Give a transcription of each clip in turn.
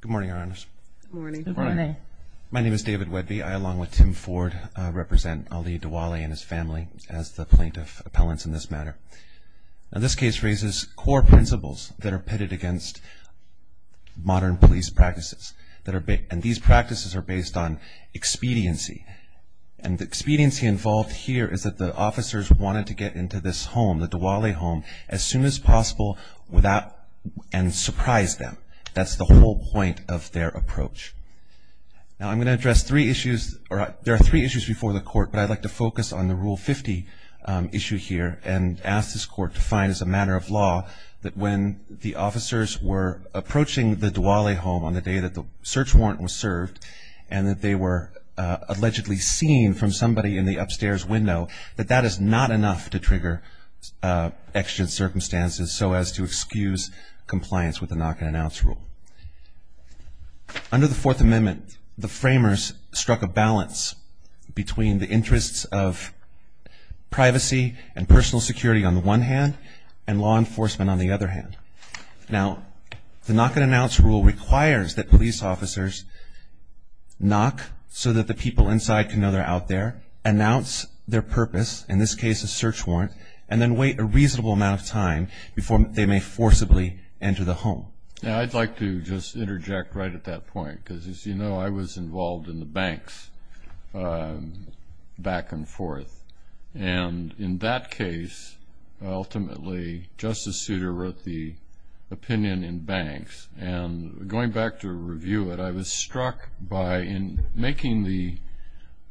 Good morning Your Honors. My name is David Wedby. I along with Tim Ford represent Ali Dualeh and his family as the plaintiff appellants in this matter. Now this case raises core principles that are pitted against modern police practices. And these practices are based on expediency. And the expediency involved here is that the officers wanted to get into this home, the Dualeh home, as soon as possible without and surprise them. That's the whole point of their approach. Now I'm going to address three issues or there are three issues before the court but I'd like to focus on the Rule 50 issue here and ask this court to find as a matter of law that when the officers were approaching the Dualeh home on the day that the search warrant was served and that they were allegedly seen from somebody in the upstairs window that that is not enough to trigger extra circumstances so as to excuse compliance with the Knock and Announce Rule. Under the Fourth Amendment, the framers struck a balance between the interests of privacy and personal security on the one hand and law enforcement on the other hand. Now the Knock and Announce Rule requires that police officers knock so that the people inside can know they're out there, announce their purpose, in this case a search warrant, and then wait a reasonable amount of time before they may forcibly enter the home. Now I'd like to just interject right at that point because as you know I was involved in the banks back and forth and in that case ultimately Justice Souter wrote the opinion in banks and going back to review it I was struck by in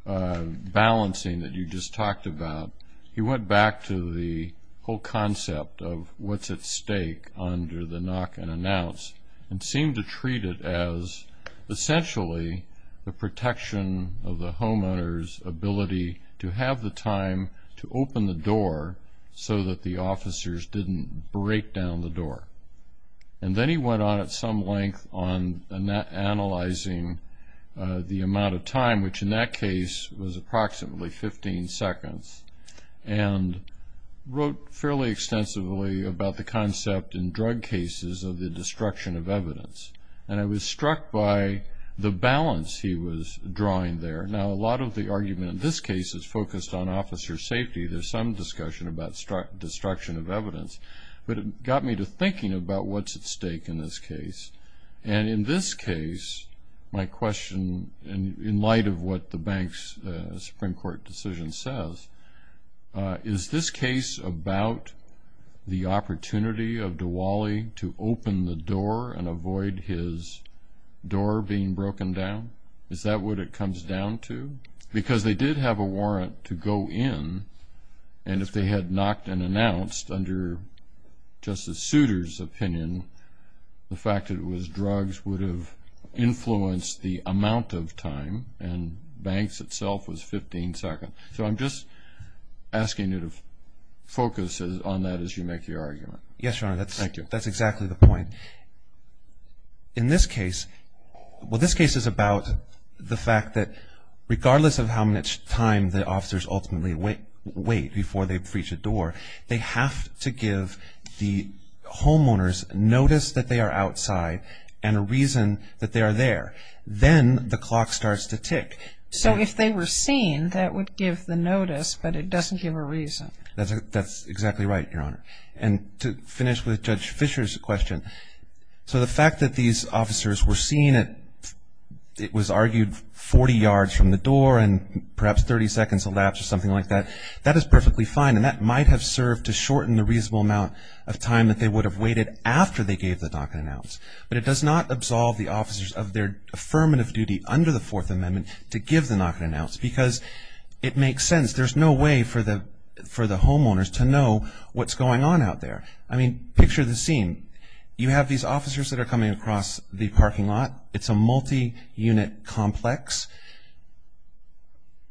balancing that you just talked about he went back to the whole concept of what's at stake under the Knock and Announce and seemed to treat it as essentially the protection of the homeowner's ability to have the time to open the door so that the officers didn't break down the door and then he went on at some length on analyzing the amount of time which in that case was approximately 15 seconds and wrote fairly extensively about the concept in drug cases of the destruction of evidence and I was struck by the balance he was drawing there. Now a lot of the argument in this case is focused on officer safety there's some discussion about destruction of evidence but it got me to thinking about what's at stake in this case and in this case my question in light of what the bank's Supreme Court decision says is this case about the opportunity of Diwali to open the door and avoid his door being broken down? Is that what it comes down to? Because they did have a warrant to go in and if they had knocked and announced under Justice Souter's opinion the fact it was drugs would have influenced the amount of time and banks itself was 15 seconds. So I'm just asking you to focus on that as you make your argument. Yes, Your Honor. Thank you. That's exactly the point. In this case, well this case is about the fact that regardless of how much time the officers ultimately wait before they breach a door, they have to give the homeowners notice that they are outside and a reason that they are there. Then the clock starts to tick. So if they were seen that would give the notice but it doesn't give a reason. That's exactly right, Your Honor. And to finish with Judge Fisher's question, so the fact that these officers were seen at, it was argued, 40 yards from the door and perhaps 30 seconds elapsed or something like that, that is perfectly fine and that might have served to shorten the reasonable amount of time that they would have waited after they gave the knock and announce. But it does not absolve the officers of their affirmative duty under the Fourth Amendment to give the knock and announce because it makes sense. There's no way for the homeowners to know what's going on out there. I mean, picture the scene. You have these officers that are coming across the parking lot. It's a multi-unit complex.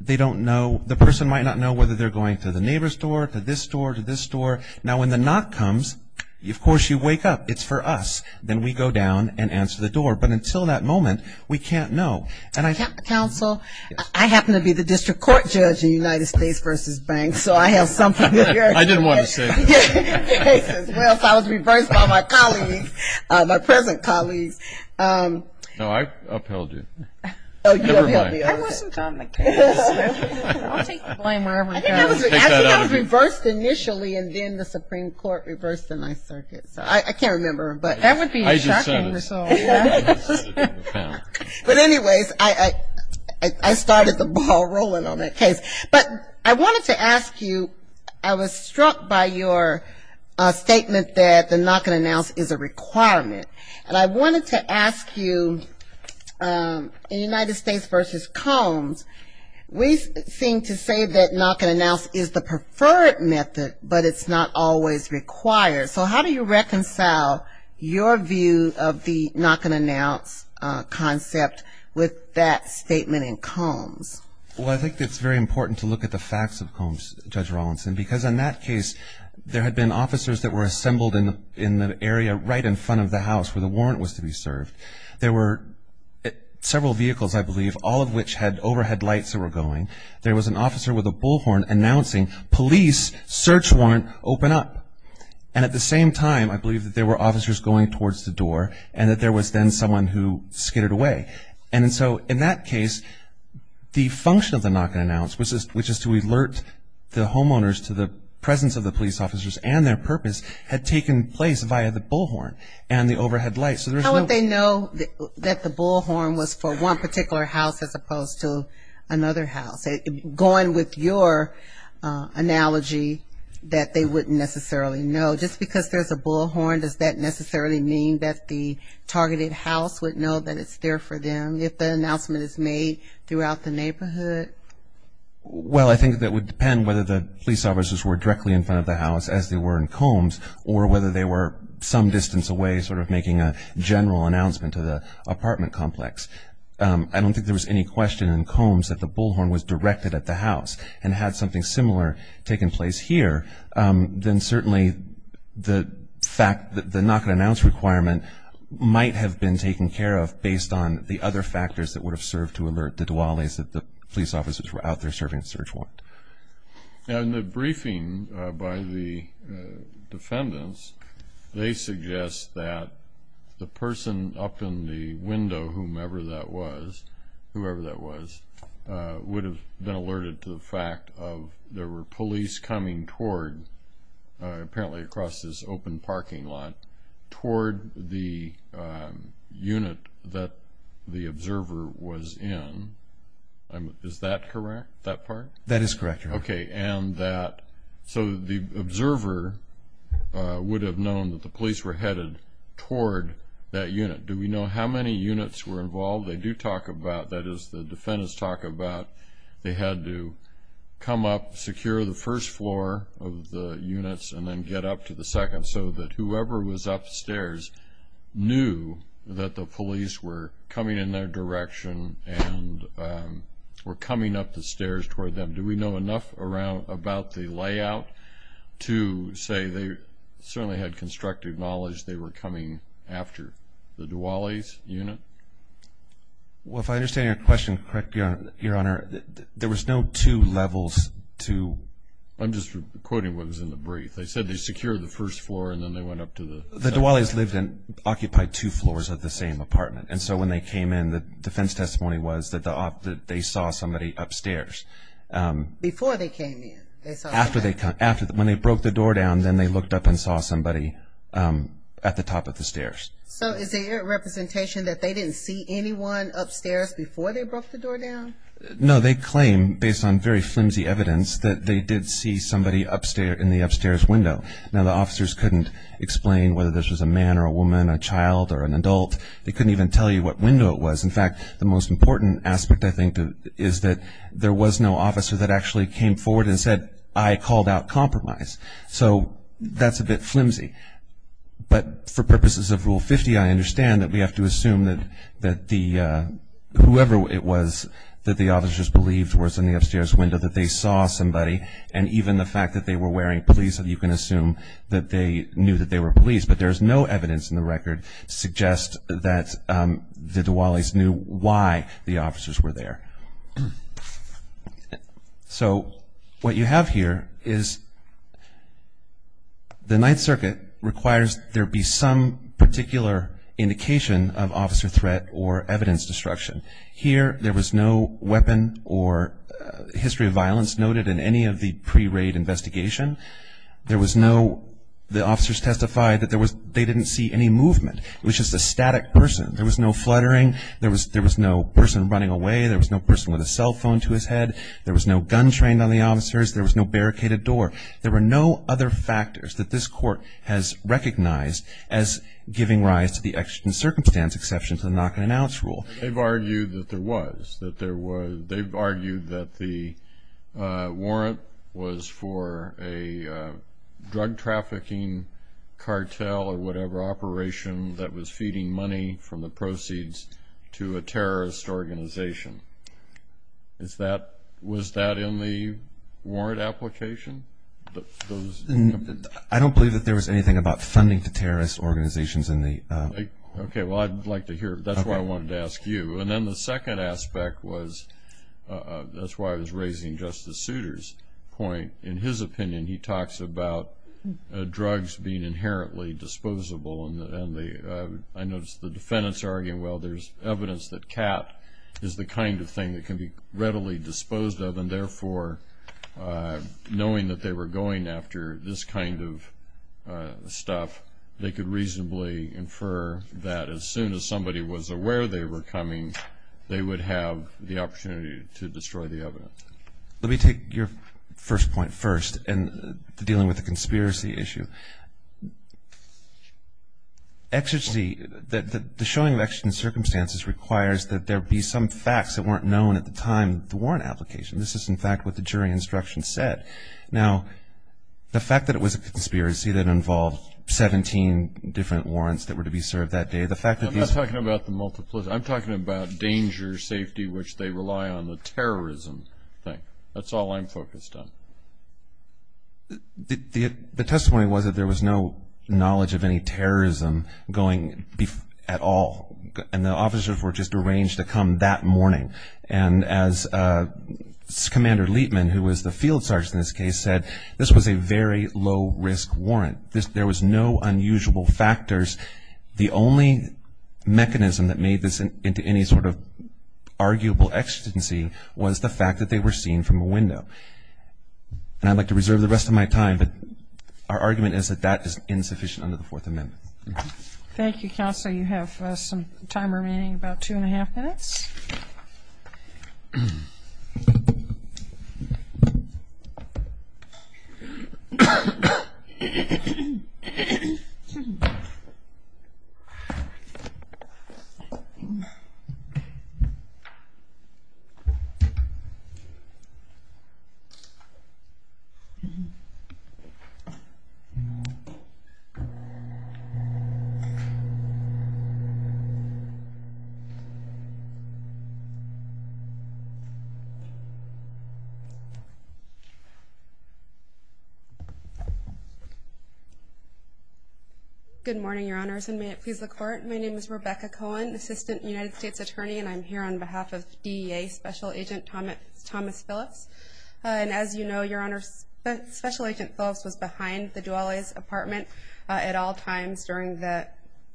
They don't know, the person might not know whether they're going to the neighbor's door, to this door, to this door. Now when the knock comes, of course you wake up. It's for us. Then we go down and answer the door. But until that moment, we can't know. Counsel, I happen to be the district court judge in United States v. Banks so I have something to say. I didn't want to say that. Well, so I was reversed by my colleagues, my present colleagues. No, I upheld you. Never mind. I wasn't on the case. I'll take the blame wherever it goes. I think I was reversed initially and then the Supreme Court reversed the Ninth Circuit. So I can't remember. That would be a shocking result. But anyways, I started the ball rolling on that case. But I wanted to ask you, I was struck by your statement that the knock and announce is a requirement. And I wanted to ask you, in United States v. Combs, we seem to say that knock and announce is the preferred method but it's not always required. So how do you reconcile your view of the knock and announce concept with that statement in Combs? Well, I think it's very important to look at the facts of Combs, Judge Rawlinson, because in that case, there had been officers that were assembled in the area right in front of the house where the warrant was to be served. There were several vehicles, I believe, all of which had overhead lights that were going. There was an officer with a bullhorn announcing, police, search warrant, open up. And at the same time, I believe that there were officers going towards the door and that there was then someone who skidded away. And so in that case, the function of the knock and announce, which is to alert the homeowners to the presence of the police officers and their purpose, had taken place via the bullhorn and the overhead lights. How would they know that the bullhorn was for one particular house as opposed to another house? Going with your analogy that they wouldn't necessarily know, just because there's a bullhorn, does that necessarily mean that the targeted house would know that it's there for them if the announcement is made throughout the neighborhood? Well, I think that would depend whether the police officers were directly in front of the house as they were in Combs or whether they were some distance away sort of making a general announcement to the apartment complex. I don't think there was any question in Combs that the bullhorn was directed at the house and had something similar taken place here. Then certainly the fact that the knock and announce requirement might have been taken care of based on the other factors that would have served to alert the Duales if the police officers were out there serving a search warrant. In the briefing by the defendants, they suggest that the person up in the window, whomever that was, would have been alerted to the fact of there were police coming toward, apparently across this open parking lot, toward the unit that the observer was in. Is that correct, that part? That is correct, Your Honor. Okay. So the observer would have known that the police were headed toward that unit. Do we know how many units were involved? They do talk about, that is the defendants talk about, they had to come up, secure the first floor of the units, and then get up to the second so that whoever was upstairs knew that the police were coming in their direction and were coming up the stairs toward them. Do we know enough about the layout to say they certainly had constructive knowledge they were coming after the Duales unit? Well, if I understand your question correctly, Your Honor, there was no two levels to I'm just quoting what was in the brief. They said they secured the first floor and then they went up to the second floor. The Duales occupied two floors of the same apartment. And so when they came in, the defense testimony was that they saw somebody upstairs. Before they came in? After they came in. When they broke the door down, then they looked up and saw somebody at the top of the stairs. So is there representation that they didn't see anyone upstairs before they broke the door down? No. They claim, based on very flimsy evidence, that they did see somebody in the upstairs window. Now, the officers couldn't explain whether this was a man or a woman, a child or an adult. They couldn't even tell you what window it was. In fact, the most important aspect, I think, is that there was no officer that actually came forward and said, I called out compromise. So that's a bit flimsy. But for purposes of Rule 50, I understand that we have to assume that whoever it was that the officers believed was in the upstairs window, that they saw somebody. And even the fact that they were wearing police, you can assume that they knew that they were police. But there's no evidence in the record to suggest that the Duales knew why the officers were there. So what you have here is the Ninth Circuit requires there be some particular indication of officer threat or evidence destruction. Here there was no weapon or history of violence noted in any of the pre-raid investigation. There was no – the officers testified that they didn't see any movement. It was just a static person. There was no fluttering. There was no person running away. There was no person with a cell phone to his head. There was no gun trained on the officers. There was no barricaded door. There were no other factors that this Court has recognized as giving rise to the extra-circumstance exception to the knock-and-announce rule. They've argued that there was. They've argued that the warrant was for a drug trafficking cartel or whatever operation that was feeding money from the proceeds to a terrorist organization. Was that in the warrant application? I don't believe that there was anything about funding to terrorist organizations. Okay. Well, I'd like to hear it. That's why I wanted to ask you. And then the second aspect was – that's why I was raising Justice Souter's point. In his opinion, he talks about drugs being inherently disposable. And I noticed the defendants are arguing, well, there's evidence that cat is the kind of thing that can be readily disposed of and, therefore, knowing that they were going after this kind of stuff, they could reasonably infer that as soon as somebody was aware they were coming, they would have the opportunity to destroy the evidence. Let me take your first point first in dealing with the conspiracy issue. The showing of extra-circumstances requires that there be some facts that weren't known at the time of the warrant application. This is, in fact, what the jury instruction said. Now, the fact that it was a conspiracy that involved 17 different warrants that were to be served that day, the fact that these – I'm not talking about the multiplication. I'm talking about danger, safety, which they rely on, the terrorism thing. That's all I'm focused on. The testimony was that there was no knowledge of any terrorism going at all, and the officers were just arranged to come that morning. And as Commander Leitman, who was the field sergeant in this case, said, this was a very low-risk warrant. There was no unusual factors. The only mechanism that made this into any sort of arguable ecstasy was the fact that they were seen from a window. And I'd like to reserve the rest of my time, but our argument is that that is insufficient under the Fourth Amendment. Thank you, Counsel. You have some time remaining, about two and a half minutes. Thank you. Good morning, Your Honors, and may it please the Court. My name is Rebecca Cohen, Assistant United States Attorney, and I'm here on behalf of DEA Special Agent Thomas Phillips. And as you know, Your Honors, Special Agent Phillips was behind the Duale's apartment at all times during the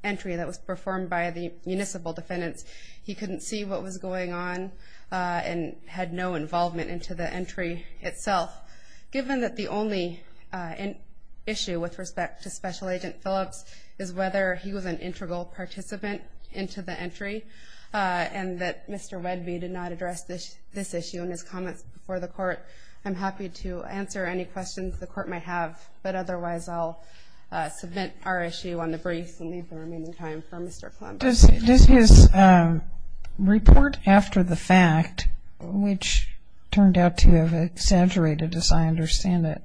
entry that was performed by the municipal defendants. He couldn't see what was going on and had no involvement into the entry itself. Given that the only issue with respect to Special Agent Phillips is whether he was an integral participant into the entry and that Mr. Wedby did not address this issue in his comments before the Court, I'm happy to answer any questions the Court might have. But otherwise, I'll submit our issue on the briefs and leave the remaining time for Mr. Clement. Does his report after the fact, which turned out to have exaggerated, as I understand it,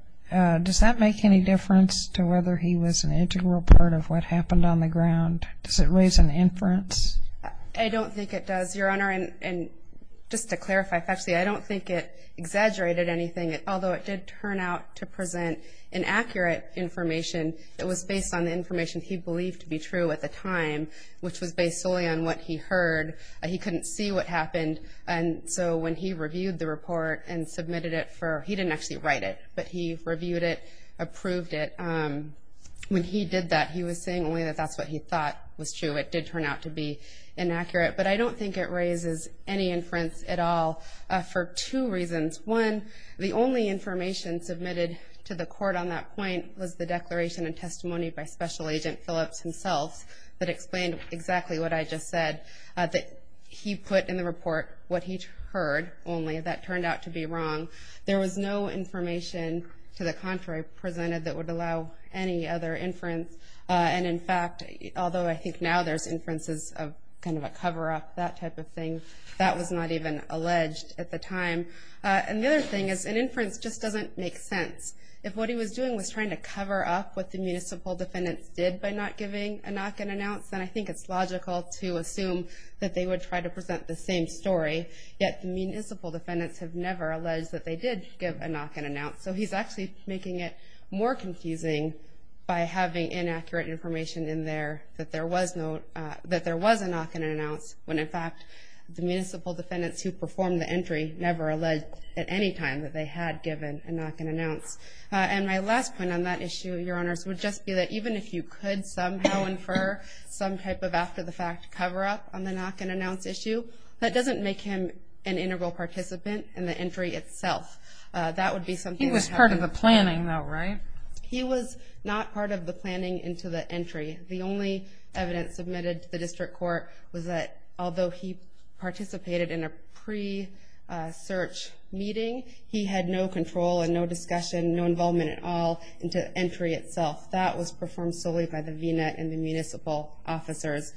does that make any difference to whether he was an integral part of what happened on the ground? Does it raise an inference? I don't think it does, Your Honor. And just to clarify factually, I don't think it exaggerated anything. Although it did turn out to present inaccurate information, it was based on the information he believed to be true at the time, which was based solely on what he heard. He couldn't see what happened, and so when he reviewed the report and submitted it for – he didn't actually write it, but he reviewed it, approved it. When he did that, he was saying only that that's what he thought was true. It did turn out to be inaccurate. But I don't think it raises any inference at all for two reasons. One, the only information submitted to the court on that point was the declaration and testimony by Special Agent Phillips himself that explained exactly what I just said, that he put in the report what he heard only that turned out to be wrong. There was no information to the contrary presented that would allow any other inference. And, in fact, although I think now there's inferences of kind of a cover-up, that type of thing, that was not even alleged at the time. And the other thing is an inference just doesn't make sense. If what he was doing was trying to cover up what the municipal defendants did by not giving a knock-and-announce, then I think it's logical to assume that they would try to present the same story, yet the municipal defendants have never alleged that they did give a knock-and-announce, so he's actually making it more confusing by having inaccurate information in there that there was a knock-and-announce when, in fact, the municipal defendants who performed the entry never alleged at any time that they had given a knock-and-announce. And my last point on that issue, Your Honors, would just be that even if you could somehow infer some type of after-the-fact cover-up on the knock-and-announce issue, that doesn't make him an integral participant in the entry itself. That would be something that happened. He was part of the planning, though, right? He was not part of the planning into the entry. The only evidence submitted to the district court was that although he participated in a pre-search meeting, he had no control and no discussion, no involvement at all into the entry itself. That was performed solely by the VNet and the municipal officers.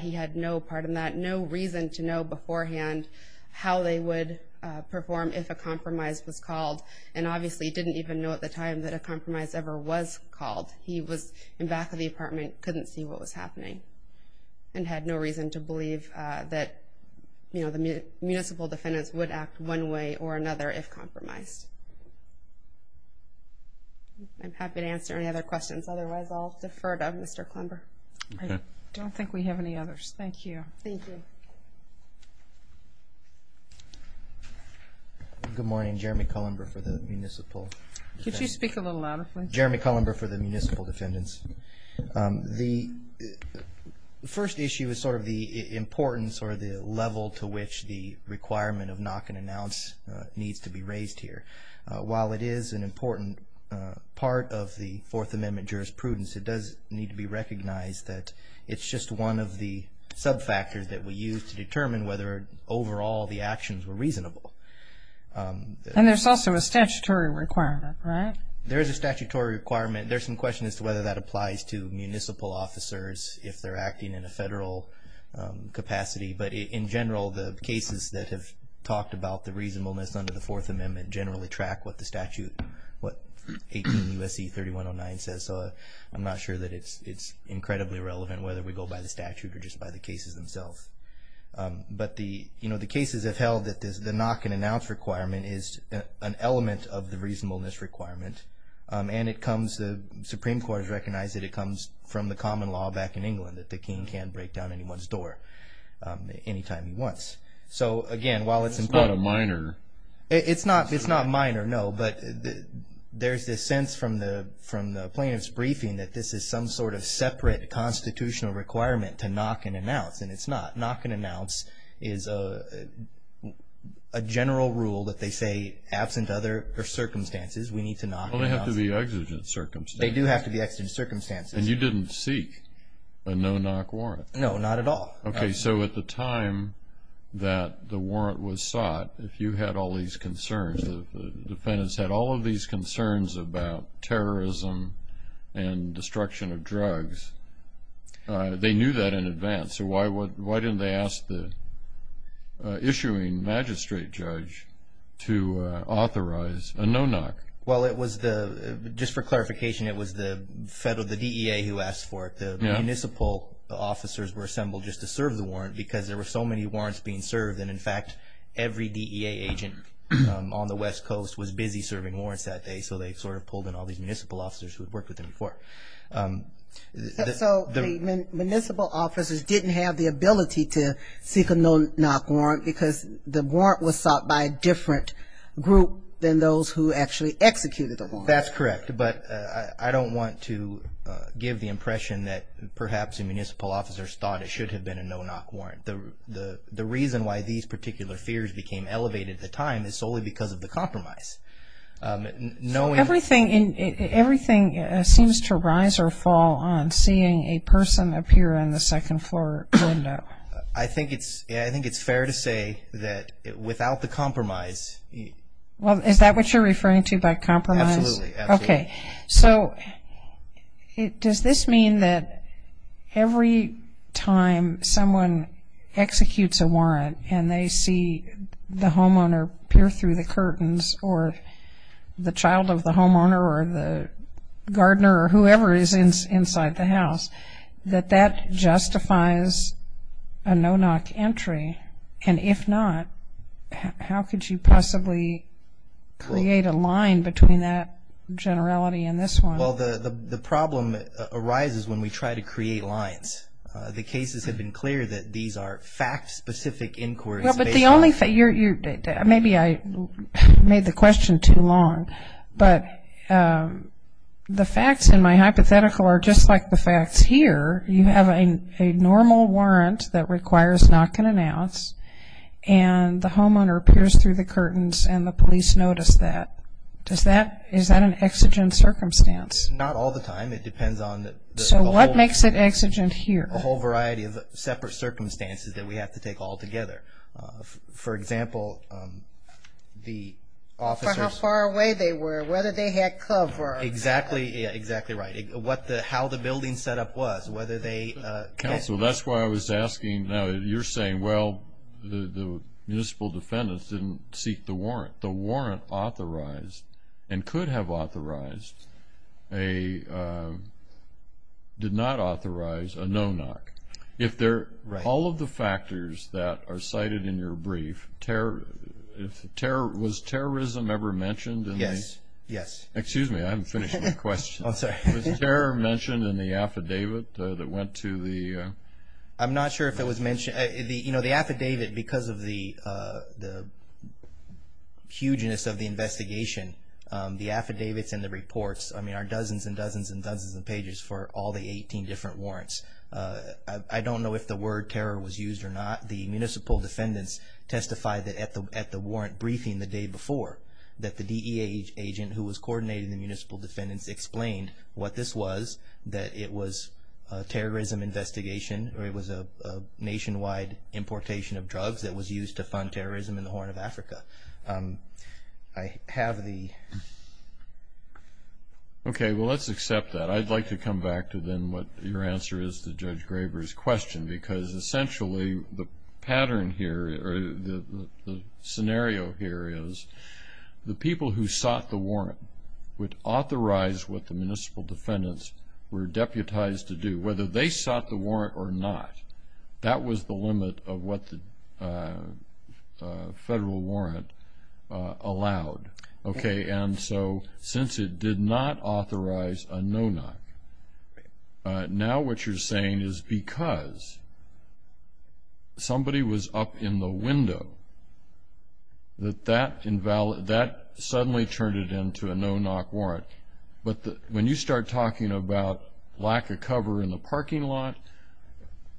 He had no part in that, no reason to know beforehand how they would perform if a compromise was called, and obviously didn't even know at the time that a compromise ever was called. He was in back of the apartment, couldn't see what was happening, and had no reason to believe that the municipal defendants would act one way or another if compromised. I'm happy to answer any other questions. Otherwise, I'll defer to Mr. Klumber. I don't think we have any others. Thank you. Thank you. Good morning. Jeremy Klumber for the municipal. Could you speak a little louder, please? Jeremy Klumber for the municipal defendants. The first issue is sort of the importance or the level to which the requirement of knock and announce needs to be raised here. While it is an important part of the Fourth Amendment jurisprudence, it does need to be recognized that it's just one of the sub-factors that we use to determine whether, overall, the actions were reasonable. And there's also a statutory requirement, right? There is a statutory requirement. There's some question as to whether that applies to municipal officers if they're acting in a federal capacity. But in general, the cases that have talked about the reasonableness under the Fourth Amendment generally track what the statute, what 18 U.S.C. 3109 says. So I'm not sure that it's incredibly relevant whether we go by the statute or just by the cases themselves. But the cases have held that the knock and announce requirement is an element of the reasonableness requirement. And the Supreme Court has recognized that it comes from the common law back in England, that the king can break down anyone's door any time he wants. So, again, while it's important... It's not a minor... It's not minor, no. But there's this sense from the plaintiff's briefing that this is some sort of separate constitutional requirement to knock and announce. And it's not. Knock and announce is a general rule that they say, absent other circumstances, we need to knock and announce. Well, they have to be exigent circumstances. They do have to be exigent circumstances. And you didn't seek a no-knock warrant? No, not at all. Okay. So at the time that the warrant was sought, if you had all these concerns, the defendants had all of these concerns about terrorism and destruction of drugs, they knew that in advance. So why didn't they ask the issuing magistrate judge to authorize a no-knock? Well, just for clarification, it was the DEA who asked for it. The municipal officers were assembled just to serve the warrant because there were so many warrants being served that, in fact, every DEA agent on the West Coast was busy serving warrants that day, so they sort of pulled in all these municipal officers who had worked with them before. So the municipal officers didn't have the ability to seek a no-knock warrant because the warrant was sought by a different group than those who actually executed the warrant? That's correct. But I don't want to give the impression that perhaps the municipal officers thought it should have been a no-knock warrant. The reason why these particular fears became elevated at the time is solely because of the compromise. Everything seems to rise or fall on seeing a person appear in the second-floor window. I think it's fair to say that without the compromise. Well, is that what you're referring to by compromise? Absolutely. Okay. So does this mean that every time someone executes a warrant and they see the homeowner peer through the curtains or the child of the homeowner or the gardener or whoever is inside the house, that that justifies a no-knock entry? And if not, how could you possibly create a line between that generality and this one? Well, the problem arises when we try to create lines. The cases have been clear that these are fact-specific inquiries. Well, but the only thing you're – maybe I made the question too long, but the facts in my hypothetical are just like the facts here. You have a normal warrant that requires knock and announce, and the homeowner peers through the curtains and the police notice that. Is that an exigent circumstance? Not all the time. It depends on the homeowner. What makes it exigent here? A whole variety of separate circumstances that we have to take all together. For example, the officers – For how far away they were, whether they had cover. Exactly right. How the building set up was, whether they – Counsel, that's why I was asking. Now, you're saying, well, the municipal defendants didn't seek the warrant. The warrant authorized and could have authorized a – did not authorize a no-knock. If they're – all of the factors that are cited in your brief, was terrorism ever mentioned in the – Yes, yes. Excuse me, I haven't finished my question. Was terror mentioned in the affidavit that went to the – I'm not sure if it was mentioned. The affidavit, because of the hugeness of the investigation, the affidavits and the reports are dozens and dozens and dozens of pages for all the 18 different warrants. I don't know if the word terror was used or not. The municipal defendants testified at the warrant briefing the day before that the DEA agent who was coordinating the municipal defendants explained what this was, that it was a terrorism investigation or it was a nationwide importation of drugs that was used to fund terrorism in the Horn of Africa. I have the – Okay, well, let's accept that. I'd like to come back to then what your answer is to Judge Graber's question, because essentially the pattern here or the scenario here is the people who sought the warrant would authorize what the municipal defendants were deputized to do. Whether they sought the warrant or not, that was the limit of what the federal warrant allowed. Okay, and so since it did not authorize a no-knock, now what you're saying is because somebody was up in the window that that suddenly turned it into a no-knock warrant. But when you start talking about lack of cover in the parking lot,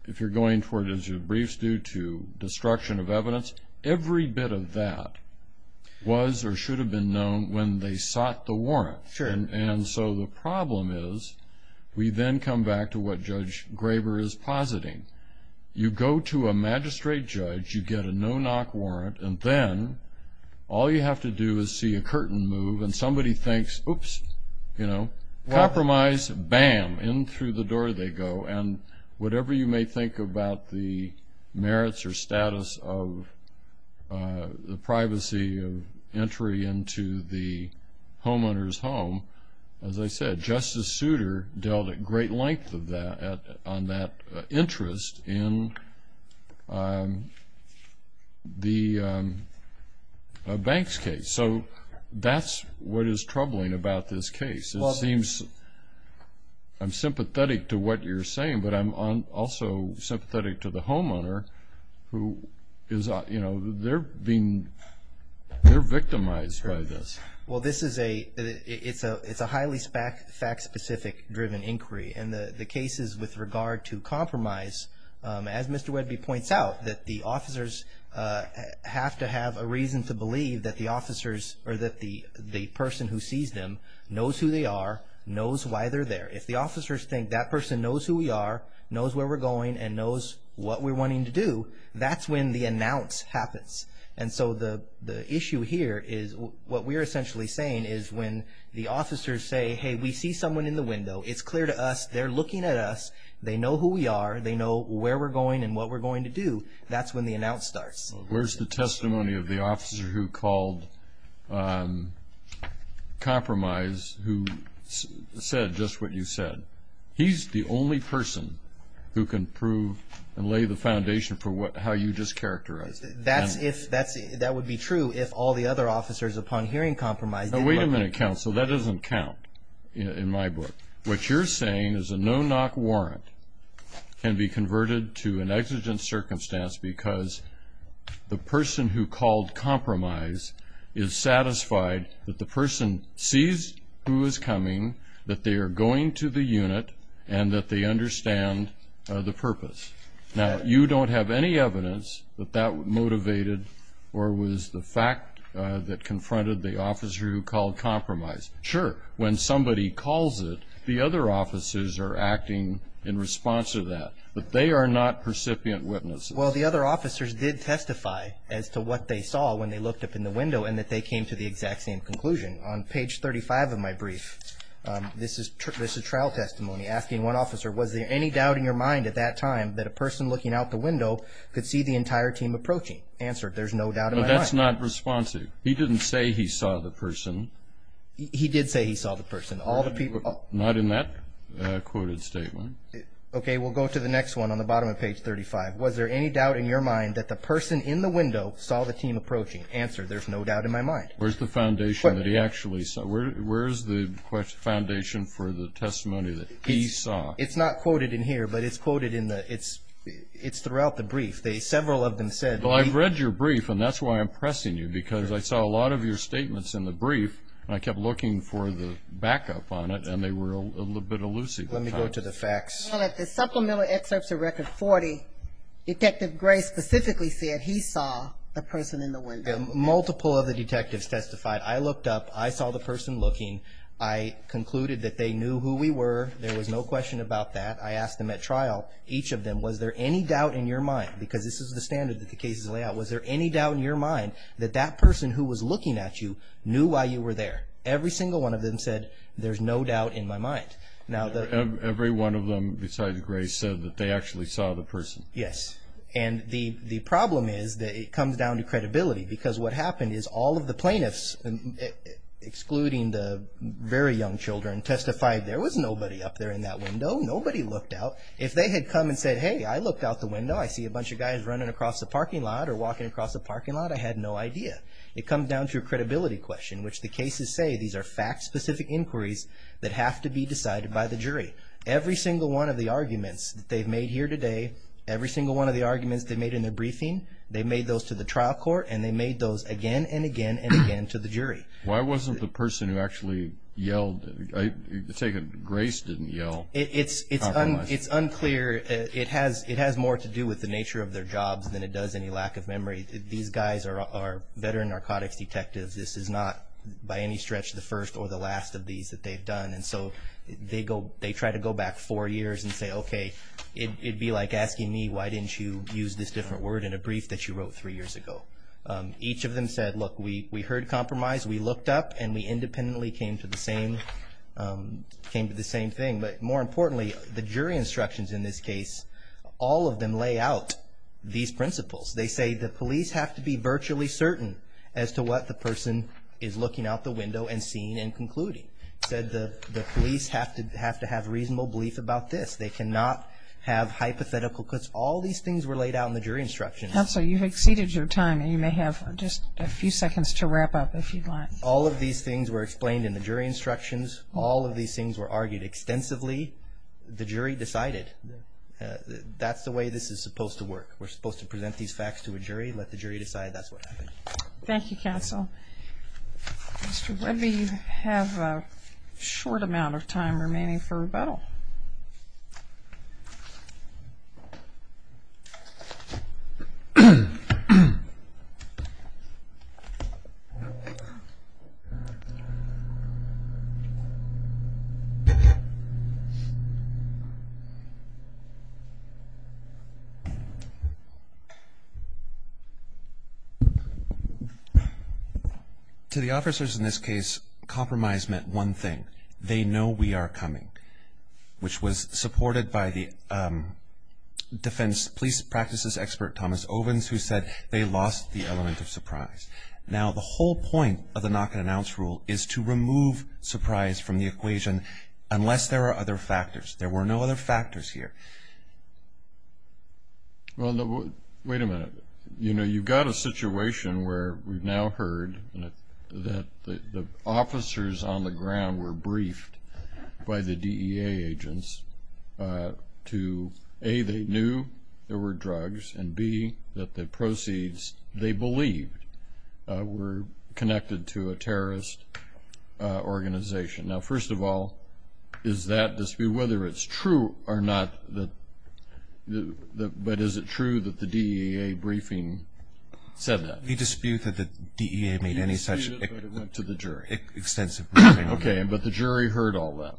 if you're going toward, as your briefs do, to destruction of evidence, every bit of that was or should have been known when they sought the warrant. Sure. And so the problem is we then come back to what Judge Graber is positing. You go to a magistrate judge, you get a no-knock warrant, and then all you have to do is see a curtain move and somebody thinks, oops, you know, compromise, bam, in through the door they go. And whatever you may think about the merits or status of the privacy of entry into the homeowner's home, as I said, Justice Souter dealt a great length of that on that interest in the banks case. So that's what is troubling about this case. It seems I'm sympathetic to what you're saying, but I'm also sympathetic to the homeowner who is, you know, they're victimized by this. Well, this is a highly fact-specific driven inquiry, and the cases with regard to compromise, as Mr. Wedby points out, that the officers have to have a reason to believe that the officers or that the person who sees them knows who they are, knows why they're there. If the officers think that person knows who we are, knows where we're going, and knows what we're wanting to do, that's when the announce happens. And so the issue here is what we're essentially saying is when the officers say, hey, we see someone in the window, it's clear to us they're looking at us, they know who we are, they know where we're going and what we're going to do, that's when the announce starts. Where's the testimony of the officer who called compromise who said just what you said? He's the only person who can prove and lay the foundation for how you just characterized it. That would be true if all the other officers upon hearing compromise didn't look at you. Now, wait a minute, counsel. That doesn't count in my book. What you're saying is a no-knock warrant can be converted to an exigent circumstance because the person who called compromise is satisfied that the person sees who is coming, that they are going to the unit, and that they understand the purpose. Now, you don't have any evidence that that motivated or was the fact that confronted the officer who called compromise. Sure, when somebody calls it, the other officers are acting in response to that, but they are not percipient witnesses. Well, the other officers did testify as to what they saw when they looked up in the window and that they came to the exact same conclusion. On page 35 of my brief, this is trial testimony, asking one officer, was there any doubt in your mind at that time that a person looking out the window could see the entire team approaching? Answered, there's no doubt in my mind. That's not responsive. He didn't say he saw the person. He did say he saw the person. Not in that quoted statement. Okay, we'll go to the next one on the bottom of page 35. Was there any doubt in your mind that the person in the window saw the team approaching? Answered, there's no doubt in my mind. Where's the foundation that he actually saw? Where's the foundation for the testimony that he saw? It's not quoted in here, but it's quoted in the – it's throughout the brief. Several of them said. Well, I've read your brief, and that's why I'm pressing you, because I saw a lot of your statements in the brief, and I kept looking for the backup on it, and they were a little bit elusive. Let me go to the facts. Well, at the supplemental excerpts of Record 40, Detective Gray specifically said he saw the person in the window. Multiple of the detectives testified. I looked up. I saw the person looking. I concluded that they knew who we were. There was no question about that. I asked them at trial, each of them, was there any doubt in your mind? Because this is the standard that the cases lay out. Was there any doubt in your mind that that person who was looking at you knew why you were there? Every single one of them said, there's no doubt in my mind. Every one of them besides Gray said that they actually saw the person. Yes, and the problem is that it comes down to credibility, because what happened is all of the plaintiffs, excluding the very young children, testified there was nobody up there in that window. Nobody looked out. If they had come and said, hey, I looked out the window. I see a bunch of guys running across the parking lot or walking across the parking lot. I had no idea. It comes down to a credibility question, which the cases say these are fact-specific inquiries that have to be decided by the jury. Every single one of the arguments that they've made here today, every single one of the arguments they made in their briefing, they made those to the trial court, and they made those again and again and again to the jury. Why wasn't the person who actually yelled, take it Grace didn't yell? It's unclear. It has more to do with the nature of their jobs than it does any lack of memory. These guys are veteran narcotics detectives. This is not by any stretch the first or the last of these that they've done. And so they try to go back four years and say, okay, it would be like asking me, why didn't you use this different word in a brief that you wrote three years ago? Each of them said, look, we heard compromise. We looked up and we independently came to the same thing. But more importantly, the jury instructions in this case, all of them lay out these principles. They say the police have to be virtually certain as to what the person is looking out the window and seeing and concluding. Said the police have to have reasonable belief about this. They cannot have hypothetical cuts. All these things were laid out in the jury instructions. Counsel, you've exceeded your time and you may have just a few seconds to wrap up if you'd like. All of these things were explained in the jury instructions. All of these things were argued extensively. The jury decided that's the way this is supposed to work. We're supposed to present these facts to a jury and let the jury decide that's what happened. Thank you, counsel. Mr. Webby, you have a short amount of time remaining for rebuttal. To the officers in this case, compromise meant one thing. They know we are coming, which was supported by the defense police practices expert, Thomas Ovens, who said they lost the element of surprise. Now, the whole point of the knock-and-announce rule is to remove surprise from the equation unless there are other factors. There were no other factors here. Wait a minute. You know, you've got a situation where we've now heard that the officers on the ground were briefed by the DEA agents to, A, they knew there were drugs, and B, that the proceeds they believed were connected to a terrorist organization. Now, first of all, is that dispute, whether it's true or not, but is it true that the DEA briefing said that? The dispute that the DEA made any such extensive briefing on that. Okay, but the jury heard all that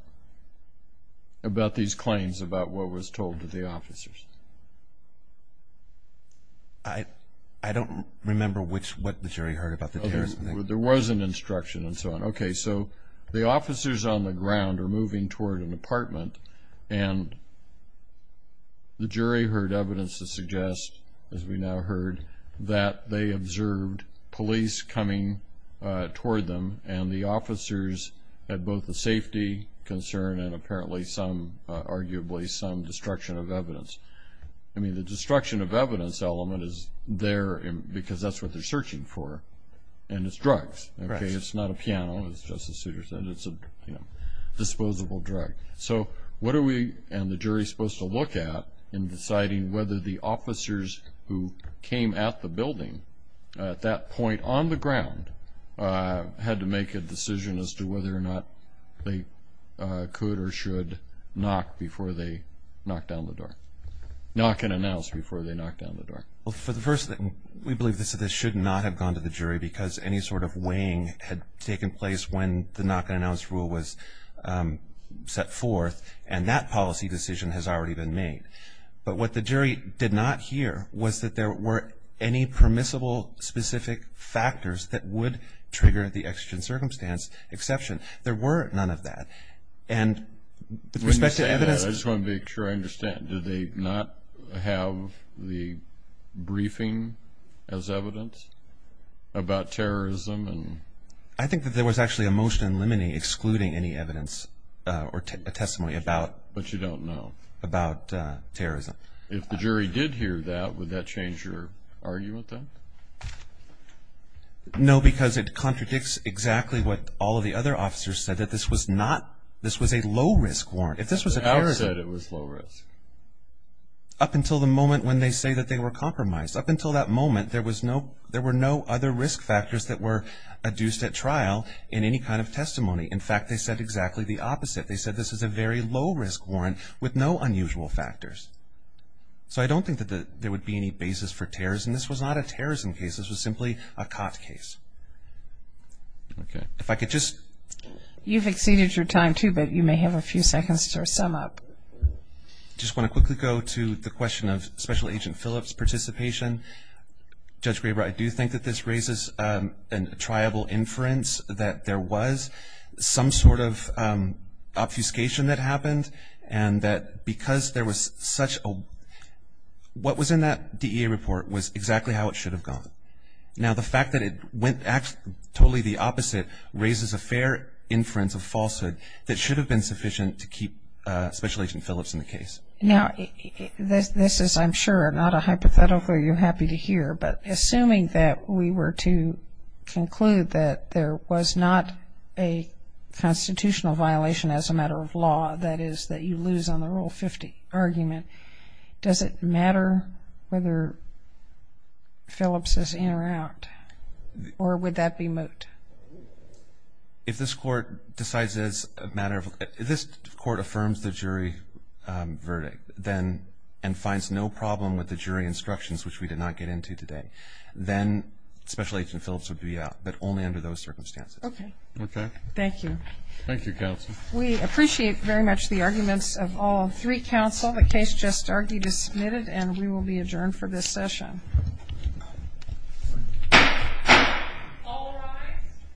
about these claims about what was told to the officers. I don't remember what the jury heard about the terrorist thing. There was an instruction and so on. Okay, so the officers on the ground are moving toward an apartment, and the jury heard evidence to suggest, as we now heard, that they observed police coming toward them, and the officers had both a safety concern and apparently some, arguably, some destruction of evidence. I mean, the destruction of evidence element is there because that's what they're searching for, and it's drugs. Okay, it's not a piano, as Justice Souter said. It's a disposable drug. So what are we and the jury supposed to look at in deciding whether the officers who came at the building at that point on the ground had to make a decision as to whether or not they could or should knock before they knock down the door, knock and announce before they knock down the door? Well, for the first thing, we believe this should not have gone to the jury because any sort of weighing had taken place when the knock and announce rule was set forth, and that policy decision has already been made. But what the jury did not hear was that there were any permissible specific factors that would trigger the exigent circumstance exception. There were none of that. And with respect to evidence ---- I just want to make sure I understand. Did they not have the briefing as evidence about terrorism? I think that there was actually a motion in limine excluding any evidence or testimony about terrorism. But you don't know. If the jury did hear that, would that change your argument then? No, because it contradicts exactly what all of the other officers said, that this was a low-risk warrant. If this was a terrorism, up until the moment when they say that they were compromised, up until that moment there were no other risk factors that were adduced at trial in any kind of testimony. In fact, they said exactly the opposite. They said this is a very low-risk warrant with no unusual factors. So I don't think that there would be any basis for terrorism. This was not a terrorism case. This was simply a COT case. If I could just ---- You've exceeded your time, too, but you may have a few seconds to sum up. I just want to quickly go to the question of Special Agent Phillips' participation. Judge Graber, I do think that this raises a triable inference that there was some sort of obfuscation that happened and that because there was such a ---- what was in that DEA report was exactly how it should have gone. Now, the fact that it went totally the opposite raises a fair inference of falsehood that should have been sufficient to keep Special Agent Phillips in the case. Now, this is, I'm sure, not a hypothetical you're happy to hear, but assuming that we were to conclude that there was not a constitutional violation as a matter of law, that is, that you lose on the Rule 50 argument, does it matter whether Phillips is in or out, or would that be moot? If this Court decides it's a matter of ---- if this Court affirms the jury verdict, then, and finds no problem with the jury instructions, which we did not get into today, then Special Agent Phillips would be out, but only under those circumstances. Okay. Thank you. Thank you, Counsel. We appreciate very much the arguments of all three counsel. The case just argued is submitted, and we will be adjourned for this session. All rise.